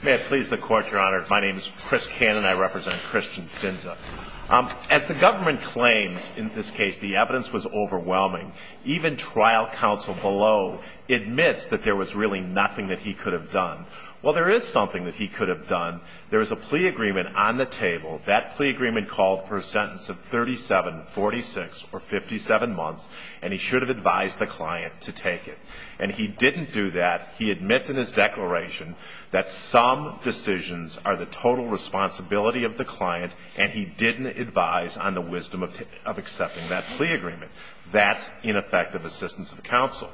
May it please the court, your honor. My name is Chris Cannon. I represent Christian Finze. As the government claims, in this case, the evidence was overwhelming. Even trial counsel below admits that there was really nothing that he could have done. Well, there is something that he could have done. There is a plea agreement on the table. That plea agreement called for a sentence of 37, 46, or 57 months, and he should have advised the client to take it. And he didn't do that. He admits in his declaration that some decisions are the total responsibility of the client, and he didn't advise on the wisdom of accepting that plea agreement. That's ineffective assistance of counsel.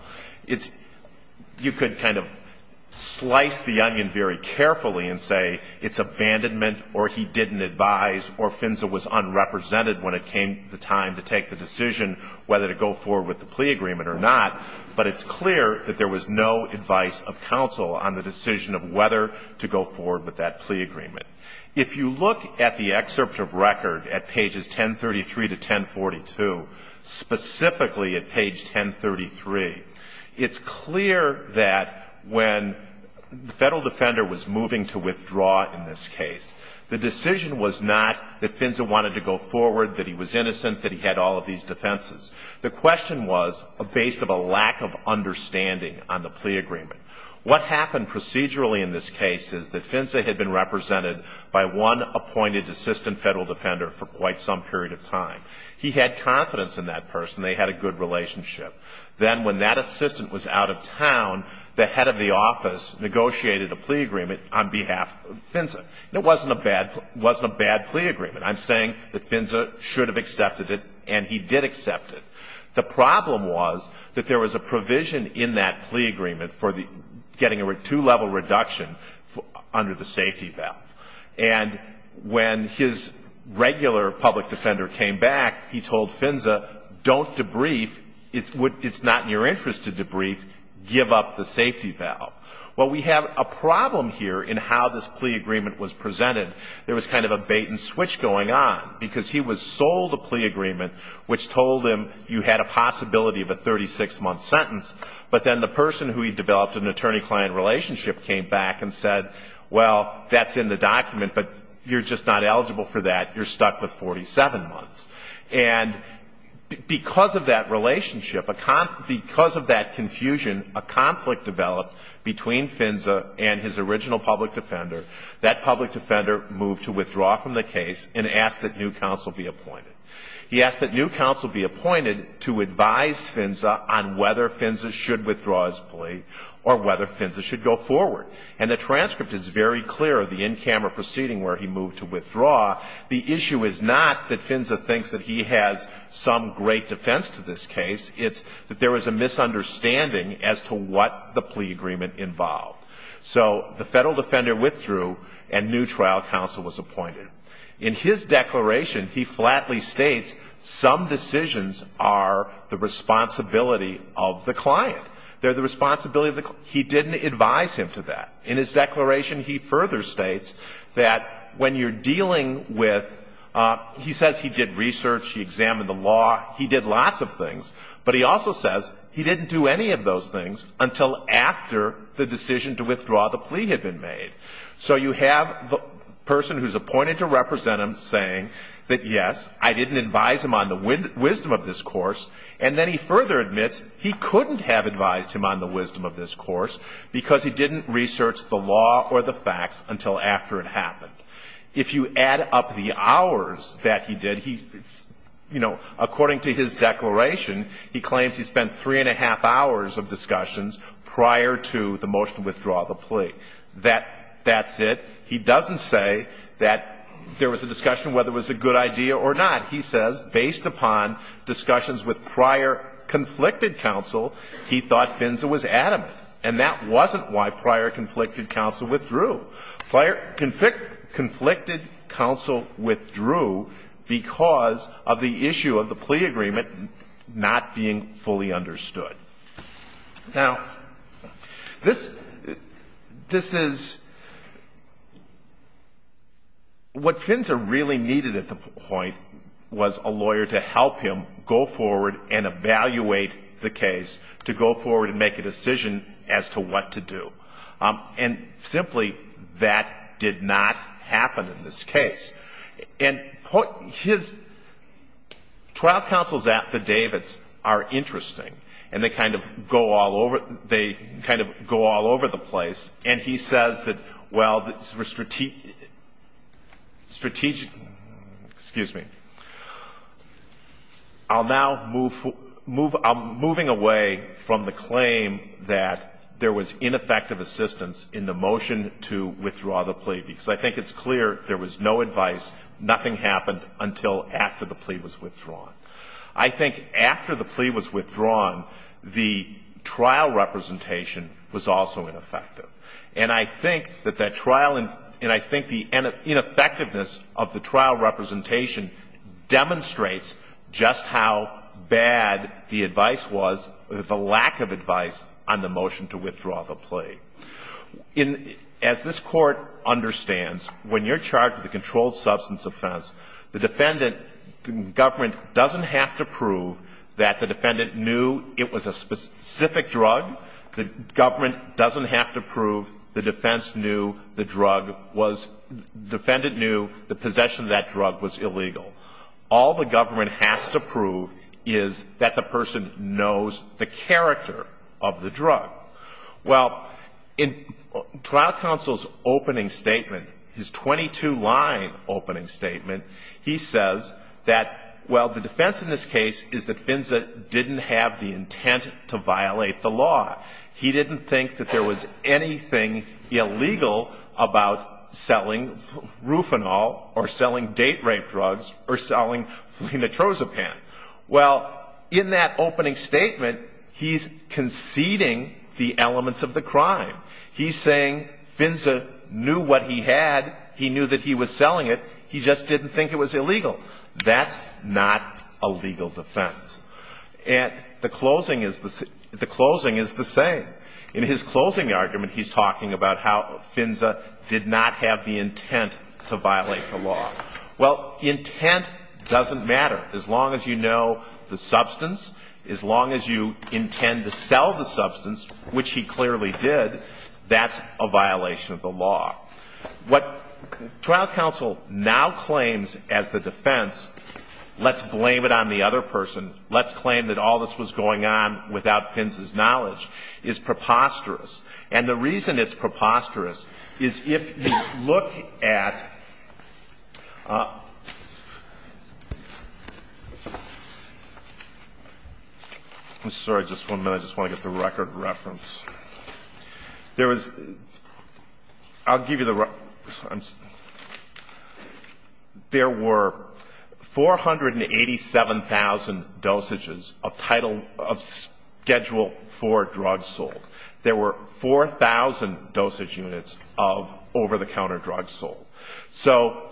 You could kind of slice the onion very carefully and say it's abandonment, or he didn't advise, or Finze was unrepresented when it came the time to take the decision whether to go forward with the plea agreement or not. But it's clear that there was no advice of counsel on the decision of whether to go forward with that plea agreement. If you look at the excerpt of record at pages 1033 to 1042, specifically at page 1033, it's clear that when the federal defender was moving to withdraw in this case, the decision was not that Finze wanted to go forward, that he was innocent, that he had all of these defenses. The question was based of a lack of understanding on the plea agreement. What happened procedurally in this case is that Finze had been represented by one appointed assistant federal defender for quite some period of time. He had confidence in that person. They had a good relationship. Then when that assistant was out of town, the head of the office negotiated a plea agreement on behalf of Finze. It wasn't a bad plea agreement. I'm saying that Finze should have accepted it, and he did accept it. The problem was that there was a provision in that plea agreement for getting a two-level reduction under the safety valve. And when his regular public defender came back, he told Finze, don't debrief. It's not in your interest to debrief. Give up the safety valve. Well, we have a problem here in how this plea agreement was presented. There was kind of a bait-and-switch going on because he was sold a plea agreement which told him you had a possibility of a 36-month sentence, but then the person who he developed an attorney-client relationship came back and said, well, that's in the document, but you're just not eligible for that. You're stuck with 47 months. And because of that relationship, because of that confusion, a conflict developed between Finze and his original public defender. That public defender moved to withdraw from the case and asked that new counsel be appointed. He asked that new counsel be appointed to advise Finze on whether Finze should withdraw his plea or whether Finze should go forward. And the transcript is very clear of the in-camera proceeding where he moved to withdraw. The issue is not that Finze thinks that he has some great defense to this case. It's that there was a misunderstanding as to what the plea agreement involved. So the federal defender withdrew and new trial counsel was appointed. In his declaration, he flatly states some decisions are the responsibility of the client. They're the responsibility of the client. He didn't advise him to that. In his declaration, he further states that when you're dealing with he says he did research, he examined the law, he did lots of things, but he also says he didn't do any of those things until after the decision to withdraw the plea had been made. So you have the person who's appointed to represent him saying that, yes, I didn't advise him on the wisdom of this course, and then he further admits he couldn't have advised him on the wisdom of this course because he didn't research the law or the facts until after it happened. If you add up the hours that he did, he, you know, according to his declaration, he claims he spent three and a half hours of discussions prior to the motion to withdraw the plea. That's it. He doesn't say that there was a discussion whether it was a good idea or not. He says based upon discussions with prior conflicted counsel, he thought Finze was adamant, and that wasn't why prior conflicted counsel withdrew. Prior conflicted counsel withdrew because of the issue of the plea agreement not being fully understood. Now, this is what Finze really needed at the point was a lawyer to help him go forward and evaluate the case to go forward and make a decision as to what to do. And simply, that did not happen in this case. And his trial counsels at the Davids are interesting, and they kind of go all over the place. And he says that, well, the strategic – excuse me – I'll now move – I'm moving away from the claim that there was ineffective assistance in the motion to withdraw the plea because I think it's clear there was no advice, nothing happened until after the plea was withdrawn. I think after the plea was withdrawn, the trial representation was also ineffective. And I think that that trial – and I think the ineffectiveness of the trial representation demonstrates just how bad the advice was, the lack of advice on the motion to withdraw the plea. As this Court understands, when you're charged with a controlled substance offense, the defendant – the government doesn't have to prove that the defendant knew it was a specific drug. The government doesn't have to prove the defense knew the drug was – defendant knew the possession of that drug was illegal. All the government has to prove is that the person knows the character of the drug. Well, in trial counsel's opening statement, his 22-line opening statement, he says that, well, the defense in this case is that Finza didn't have the intent to violate the law. He didn't think that there was anything illegal about selling rufanol or selling date-rape drugs or selling phenotrozapam. Well, in that opening statement, he's conceding the elements of the crime. He's saying Finza knew what he had. He knew that he was selling it. He just didn't think it was illegal. That's not a legal defense. And the closing is – the closing is the same. In his closing argument, he's talking about how Finza did not have the intent to violate the law. Well, intent doesn't matter. As long as you know the substance, as long as you intend to sell the substance, which he clearly did, that's a violation of the law. What trial counsel now claims as the defense, let's blame it on the other person, let's claim that all this was going on without Finza's knowledge, is preposterous. And the reason it's preposterous is if you look at – I'm sorry, just one minute. I just want to get the record reference. There was – I'll give you the – there were 487,000 dosages of schedule 4 drugs sold. There were 4,000 dosage units of over-the-counter drugs sold. So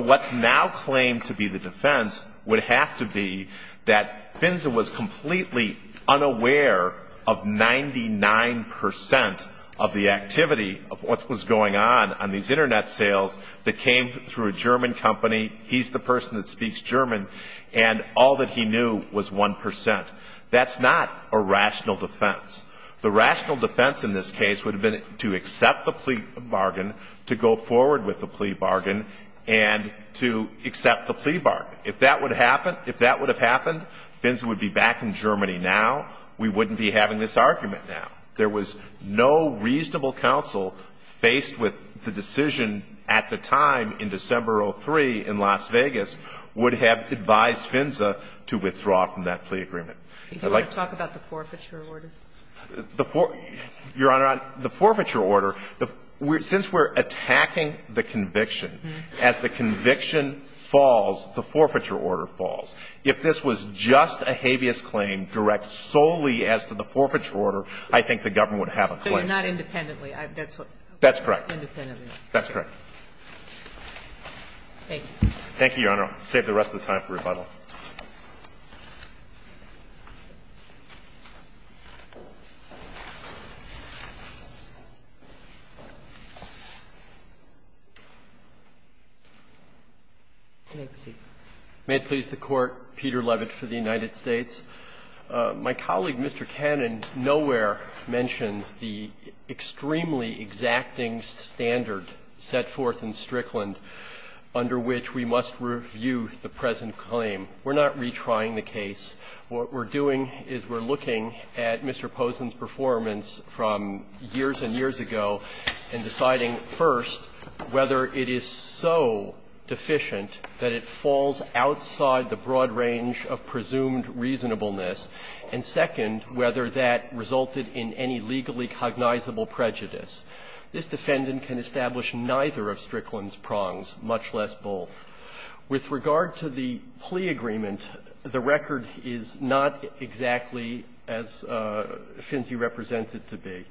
what's now claimed to be the defense would have to be that Finza was completely unaware of 99 percent of the activity of what was going on on these Internet sales that came through a German company. He's the person that speaks German. And all that he knew was 1 percent. That's not a rational defense. The rational defense in this case would have been to accept the plea bargain, to go forward with the plea bargain, and to accept the plea bargain. If that would happen, if that would have happened, Finza would be back in Germany now. We wouldn't be having this argument now. There was no reasonable counsel faced with the decision at the time in December of 2003 in Las Vegas would have advised Finza to withdraw from that plea agreement. I'd like to talk about the forfeiture order. Your Honor, the forfeiture order, since we're attacking the conviction, as the conviction falls, the forfeiture order falls. If this was just a habeas claim direct solely as to the forfeiture order, I think the government would have a claim. But not independently. That's correct. Independently. That's correct. Thank you. Thank you, Your Honor. I'll save the rest of the time for rebuttal. May it please the Court. Peter Levitt for the United States. My colleague, Mr. Cannon, nowhere mentions the extremely exacting standard set forth in Strickland under which we must review the present claim. We're not retrying the case. What we're doing is we're looking at Mr. Posen's performance from years and years ago and deciding, first, whether it is so deficient that it falls outside the broad range of presumed reasonableness, and, second, whether that resulted in any legally cognizable prejudice. This defendant can establish neither of Strickland's prongs, much less both. With regard to the plea agreement, the record is not exactly as Finzi represents it to be.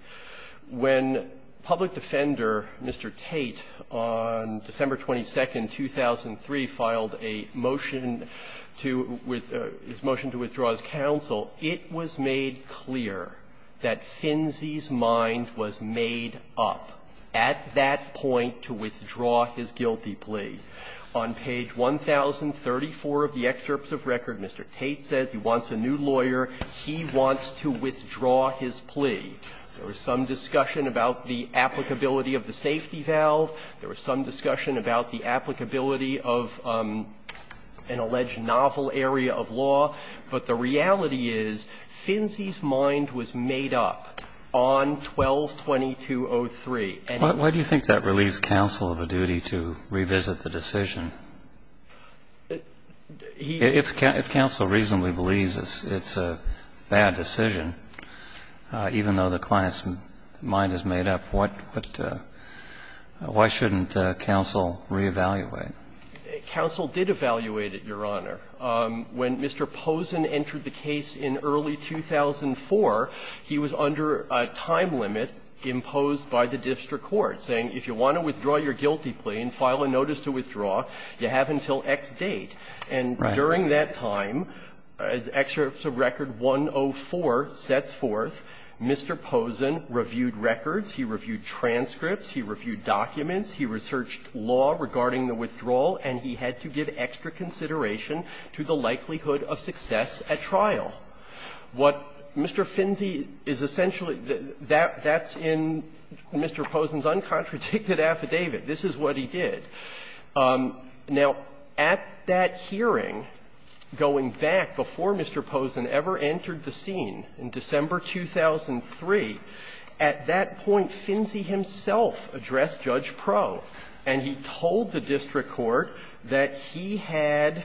When public defender, Mr. Tate, on December 22, 2003, filed a motion to with his motion to withdraw his counsel, it was made clear that Finzi's mind was made up at that point to withdraw his guilty plea. On page 1034 of the excerpts of record, Mr. Tate says he wants a new lawyer. He wants to withdraw his plea. There was some discussion about the applicability of the safety valve. There was some discussion about the applicability of an alleged novel area of law. But the reality is Finzi's mind was made up on 12-2203. And he was made up. Why do you think that relieves counsel of a duty to revisit the decision? If counsel reasonably believes it's a bad decision, even though the client's mind is made up, what why shouldn't counsel reevaluate? Counsel did evaluate it, Your Honor. When Mr. Pozen entered the case in early 2004, he was under a time limit imposed by the district court, saying if you want to withdraw your guilty plea and file a notice to withdraw, you have until X date. And during that time, as Excerpts of Record 104 sets forth, Mr. Pozen reviewed records, he reviewed transcripts, he reviewed documents, he researched law regarding the withdrawal, and he had to give extra consideration to the likelihood of success at trial. What Mr. Finzi is essentially that's in Mr. Pozen's uncontradicted affidavit. This is what he did. Now, at that hearing, going back before Mr. Pozen ever entered the scene in December 2003, at that point, Finzi himself addressed Judge Proh, and he told the district court that he had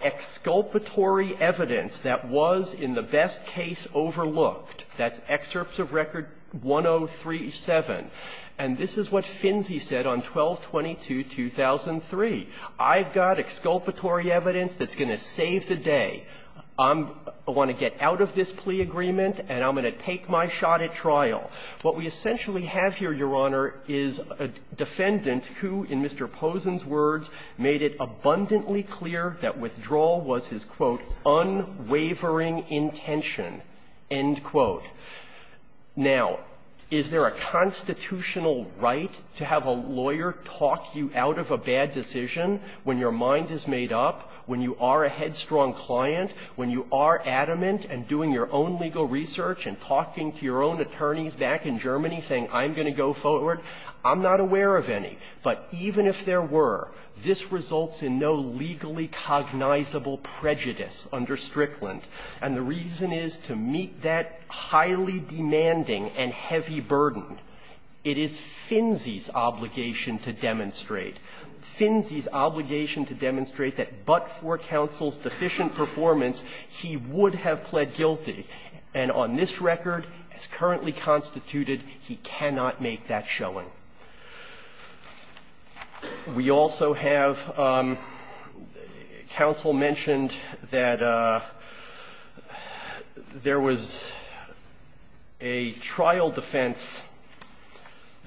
exculpatory evidence that was in the best case overlooked. That's Excerpts of Record 1037. And this is what Finzi said on 12-22-2003. I've got exculpatory evidence that's going to save the day. I'm going to get out of this plea agreement and I'm going to take my shot at trial. What we essentially have here, Your Honor, is a defendant who, in Mr. Pozen's words, made it abundantly clear that withdrawal was his, quote, unwavering intention, end quote. Now, is there a constitutional right to have a lawyer talk you out of a bad decision when your mind is made up, when you are a headstrong client, when you are adamant and doing your own legal research and talking to your own attorneys back in Germany saying, I'm going to go forward? I'm not aware of any. But even if there were, this results in no legally cognizable prejudice under Strickland. And the reason is to meet that highly demanding and heavy burden. It is Finzi's obligation to demonstrate. Finzi's obligation to demonstrate that but for counsel's deficient performance, he would have pled guilty. And on this record, as currently constituted, he cannot make that showing. We also have counsel mentioned that there was a trial defense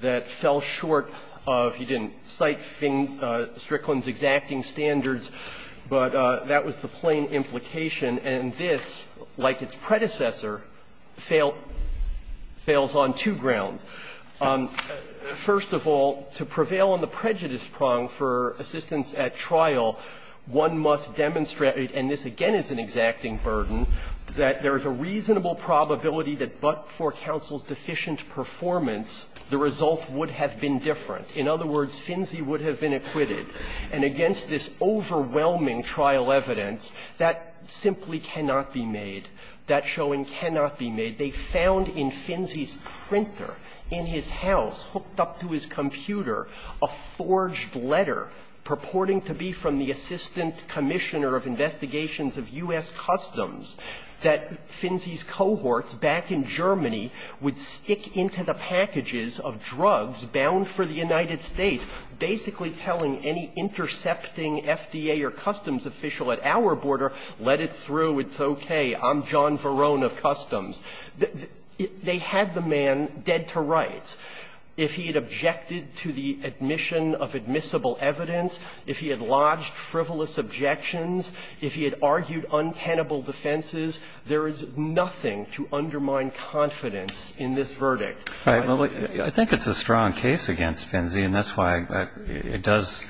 that fell short of he didn't cite Strickland's exacting standards, but that was the plain implication. And this, like its predecessor, failed – fails on two grounds. First of all, to prevail on the prejudice prong for assistance at trial, one must demonstrate – and this, again, is an exacting burden – that there is a reasonable probability that but for counsel's deficient performance, the result would have been different. In other words, Finzi would have been acquitted. And against this overwhelming trial evidence, that simply cannot be made. That showing cannot be made. They found in Finzi's printer in his house, hooked up to his computer, a forged letter purporting to be from the Assistant Commissioner of Investigations of U.S. Customs that Finzi's cohorts back in Germany would stick into the packages of drugs bound for the United States, basically telling any intercepting FDA or customs official at our border, let it through, it's okay, I'm John Verone of Customs, they had the man dead to rights. If he had objected to the admission of admissible evidence, if he had lodged frivolous objections, if he had argued untenable defenses, there is nothing to undermine confidence in this verdict. Right. Well, I think it's a strong case against Finzi, and that's why it does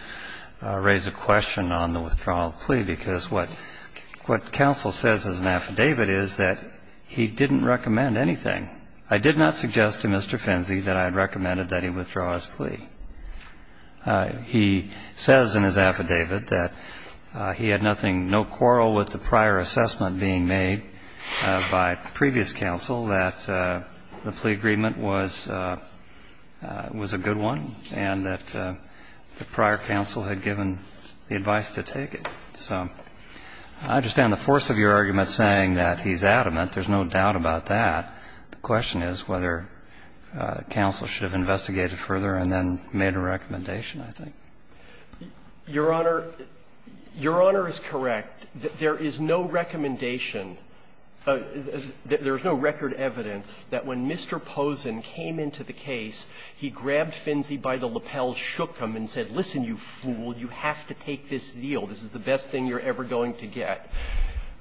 raise a question on the withdrawal plea, because what counsel says as an affidavit is that he didn't recommend anything. I did not suggest to Mr. Finzi that I had recommended that he withdraw his plea. He says in his affidavit that he had nothing, no quarrel with the prior assessment being made by previous counsel, that the plea agreement was a good one, and that the prior counsel had given the advice to take it. So I understand the force of your argument saying that he's adamant, there's no doubt about that. The question is whether counsel should have investigated further and then made a recommendation, I think. Your Honor, Your Honor is correct. There is no recommendation, there is no record evidence that when Mr. Pozen came into the case, he grabbed Finzi by the lapel, shook him, and said, listen, you fool, you have to take this deal. This is the best thing you're ever going to get.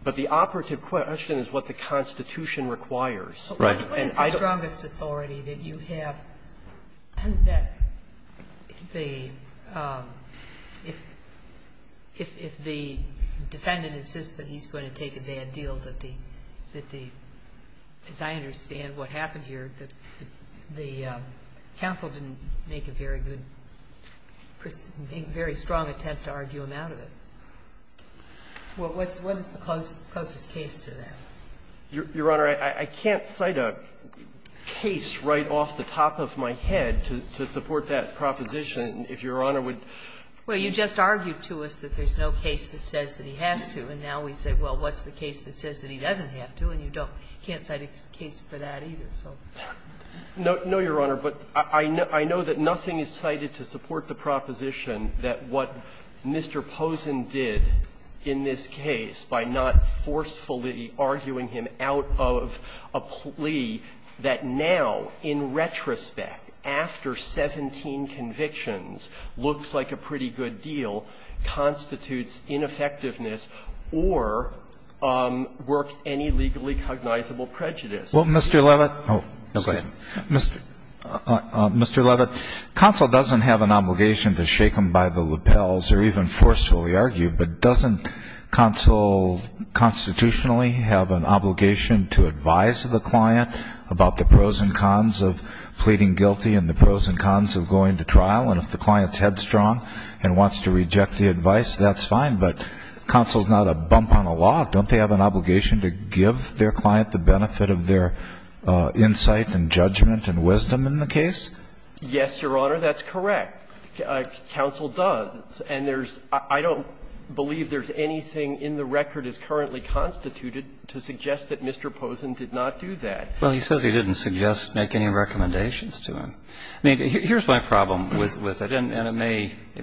But the operative question is what the Constitution requires. Right. And I don't think it's the strongest authority that you have that the, if the defendant insists that he's going to take a bad deal, that the, as I understand what happened here, that the counsel didn't make a very good, very strong attempt to argue him out of it. Well, what's the closest case to that? Your Honor, I can't cite a case right off the top of my head to support that proposition if Your Honor would. Well, you just argued to us that there's no case that says that he has to, and now we say, well, what's the case that says that he doesn't have to, and you don't can't cite a case for that either, so. No, Your Honor, but I know that nothing is cited to support the proposition that what Mr. Posen did in this case by not forcefully arguing him out of a plea that now, in retrospect, after 17 convictions, looks like a pretty good deal, constitutes ineffectiveness or worked any legally cognizable prejudice. Well, Mr. Levitt. Oh, go ahead. Mr. Levitt, counsel doesn't have an obligation to shake him off of a plea. He doesn't shake him by the lapels or even forcefully argue, but doesn't counsel constitutionally have an obligation to advise the client about the pros and cons of pleading guilty and the pros and cons of going to trial, and if the client's headstrong and wants to reject the advice, that's fine, but counsel's not a bump on a log. Don't they have an obligation to give their client the benefit of their insight and judgment and wisdom in the case? Yes, Your Honor, that's correct. Counsel does. And there's – I don't believe there's anything in the record as currently constituted to suggest that Mr. Posen did not do that. Well, he says he didn't suggest making any recommendations to him. I mean, here's my problem with it, and it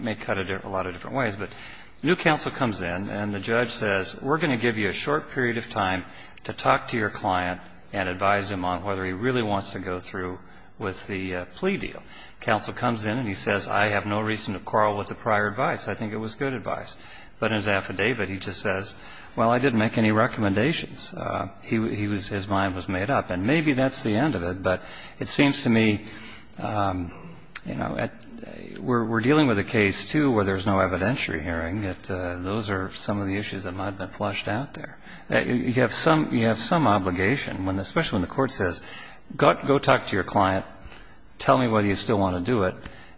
may cut it a lot of different ways, but new counsel comes in and the judge says, we're going to give you a short period of time to talk to your client and advise him on whether he really wants to go through with the plea deal. Counsel comes in and he says, I have no reason to quarrel with the prior advice. I think it was good advice. But in his affidavit, he just says, well, I didn't make any recommendations. He was – his mind was made up. And maybe that's the end of it, but it seems to me, you know, we're dealing with a case, too, where there's no evidentiary hearing, that those are some of the issues that might have been flushed out there. You have some obligation, especially when the court says, go talk to your client, tell me whether you still want to do it,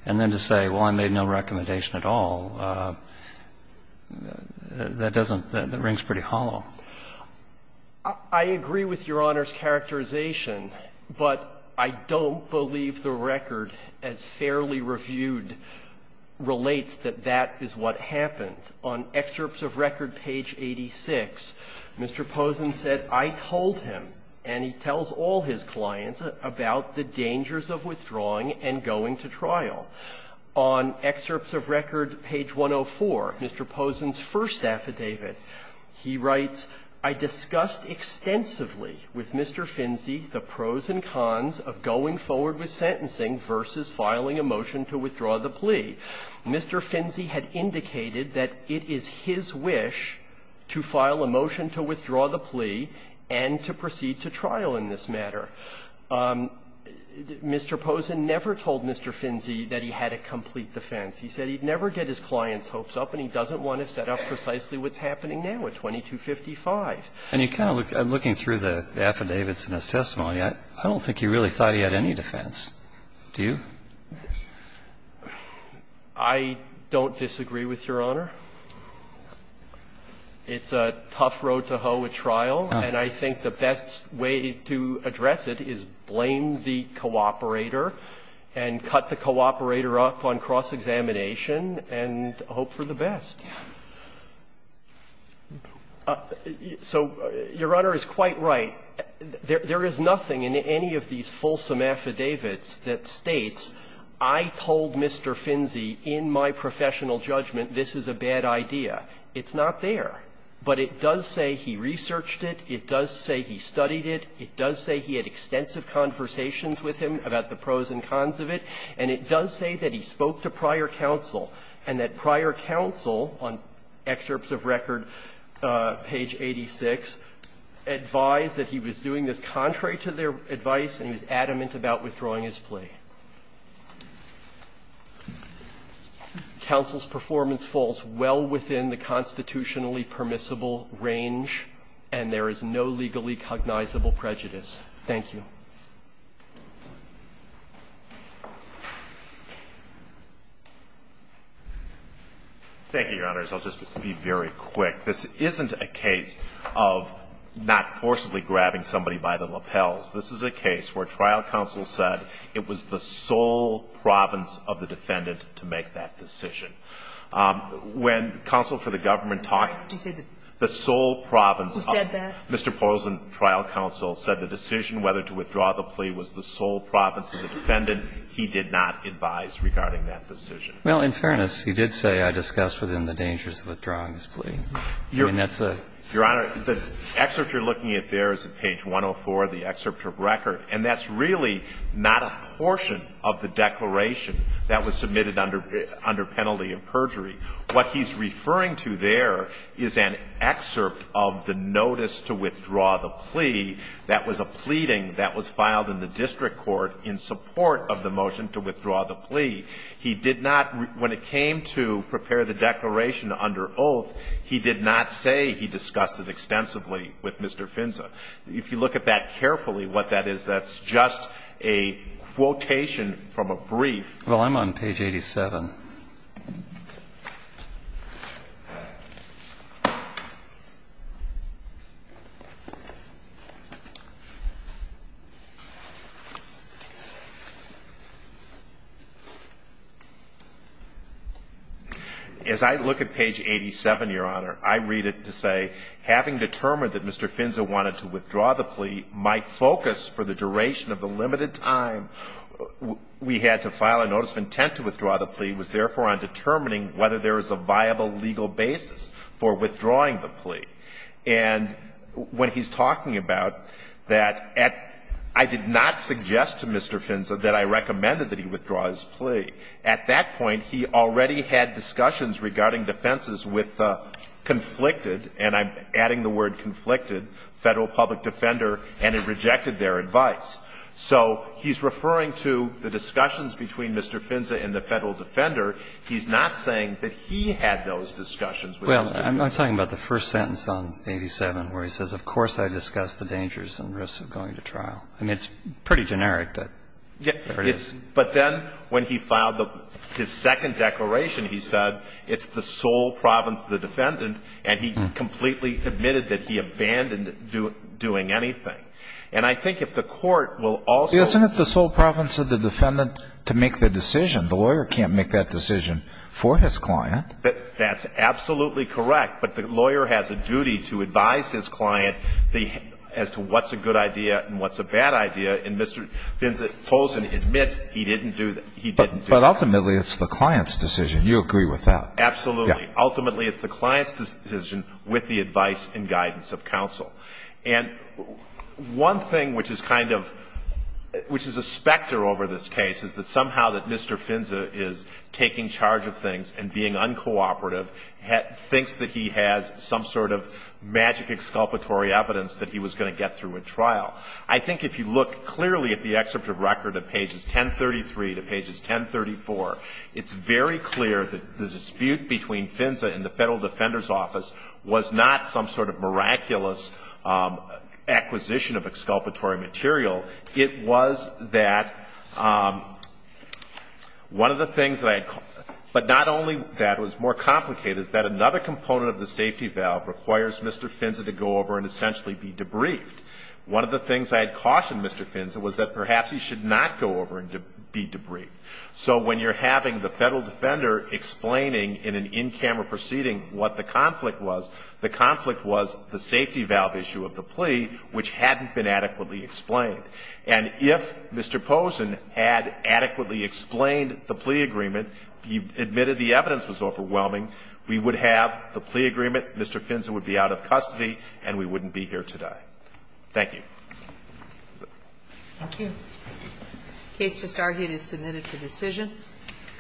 and then to say, well, I made no recommendation at all, that doesn't – that rings pretty hollow. I agree with Your Honor's characterization, but I don't believe the record as fairly reviewed relates that that is what happened. On excerpts of record, page 86, Mr. Posen said, I told him, and he tells all his clients, about the dangers of withdrawing and going to trial. On excerpts of record, page 104, Mr. Posen's first affidavit, he writes, I discussed extensively with Mr. Finzi the pros and cons of going forward with sentencing versus filing a motion to withdraw the plea. Mr. Finzi had indicated that it is his wish to file a motion to withdraw the plea and to proceed to trial in this matter. Mr. Posen never told Mr. Finzi that he had a complete defense. He said he'd never get his client's hopes up and he doesn't want to set up precisely what's happening now at 2255. And you kind of look – looking through the affidavits in his testimony, I don't think he really thought he had any defense. Do you? I don't disagree with Your Honor. It's a tough road to hoe at trial, and I think the best way to address it is blame the cooperator and cut the cooperator up on cross-examination and hope for the best. So Your Honor is quite right. There is nothing in any of these fulsome affidavits that states, I told Mr. Finzi in my professional judgment this is a bad idea. It's not there. But it does say he researched it. It does say he studied it. It does say he had extensive conversations with him about the pros and cons of it. And it does say that he spoke to prior counsel and that prior counsel, on excerpts of record, page 86, advised that he was doing this contrary to their advice and was adamant about withdrawing his plea. Counsel's performance falls well within the constitutionally permissible range, and there is no legally cognizable prejudice. Thank you. Thank you, Your Honors. I'll just be very quick. This isn't a case of not forcibly grabbing somebody by the lapels. This is a case where trial counsel said it was the sole province of the defendant to make that decision. When counsel for the government talked to the sole province of Mr. Pozner, trial counsel said the decision whether to withdraw the plea was the sole province of the defendant. He did not advise regarding that decision. Well, in fairness, he did say, I discussed within the dangers of withdrawing this plea. I mean, that's a ---- Your Honor, the excerpt you're looking at there is at page 104 of the excerpt of record, and that's really not a portion of the declaration that was submitted under penalty of perjury. What he's referring to there is an excerpt of the notice to withdraw the plea that was a pleading that was filed in the district court in support of the motion to withdraw the plea. He did not, when it came to prepare the declaration under oath, he did not say he discussed it extensively with Mr. Finza. If you look at that carefully, what that is, that's just a quotation from a brief. Well, I'm on page 87. As I look at page 87, Your Honor, I read it to say, having determined that Mr. Finza wanted to withdraw the plea, my focus for the duration of the limited time we had on notice of intent to withdraw the plea was therefore on determining whether there is a viable legal basis for withdrawing the plea. And when he's talking about that at ---- I did not suggest to Mr. Finza that I recommended that he withdraw his plea. At that point, he already had discussions regarding defenses with the conflicted ---- and I'm adding the word conflicted ---- Federal Public Defender, and it rejected their advice. So he's referring to the discussions between Mr. Finza and the Federal Defender. He's not saying that he had those discussions with Mr. Finza. Well, I'm talking about the first sentence on 87 where he says, of course, I discussed the dangers and risks of going to trial. I mean, it's pretty generic, but there it is. But then when he filed his second declaration, he said it's the sole province of the defendant, and he completely admitted that he abandoned doing anything. And I think if the court will also ---- Isn't it the sole province of the defendant to make the decision? The lawyer can't make that decision for his client. That's absolutely correct. But the lawyer has a duty to advise his client as to what's a good idea and what's a bad idea, and Mr. Finza holds and admits he didn't do that. But ultimately, it's the client's decision. You agree with that. Ultimately, it's the client's decision with the advice and guidance of counsel. And one thing which is kind of ---- which is a specter over this case is that somehow that Mr. Finza is taking charge of things and being uncooperative thinks that he has some sort of magic exculpatory evidence that he was going to get through a trial. I think if you look clearly at the excerpt of record of pages 1033 to pages 1034, it's very clear that the dispute between Finza and the Federal Defender's was not some sort of miraculous acquisition of exculpatory material. It was that one of the things that I had ---- but not only that, it was more complicated, is that another component of the safety valve requires Mr. Finza to go over and essentially be debriefed. One of the things I had cautioned Mr. Finza was that perhaps he should not go over and be debriefed. So when you're having the Federal Defender explaining in an in-camera proceeding what the conflict was, the conflict was the safety valve issue of the plea, which hadn't been adequately explained. And if Mr. Posen had adequately explained the plea agreement, he admitted the evidence was overwhelming, we would have the plea agreement, Mr. Finza would be out of custody, and we wouldn't be here today. Thank you. Thank you. The case discarded is submitted for decision.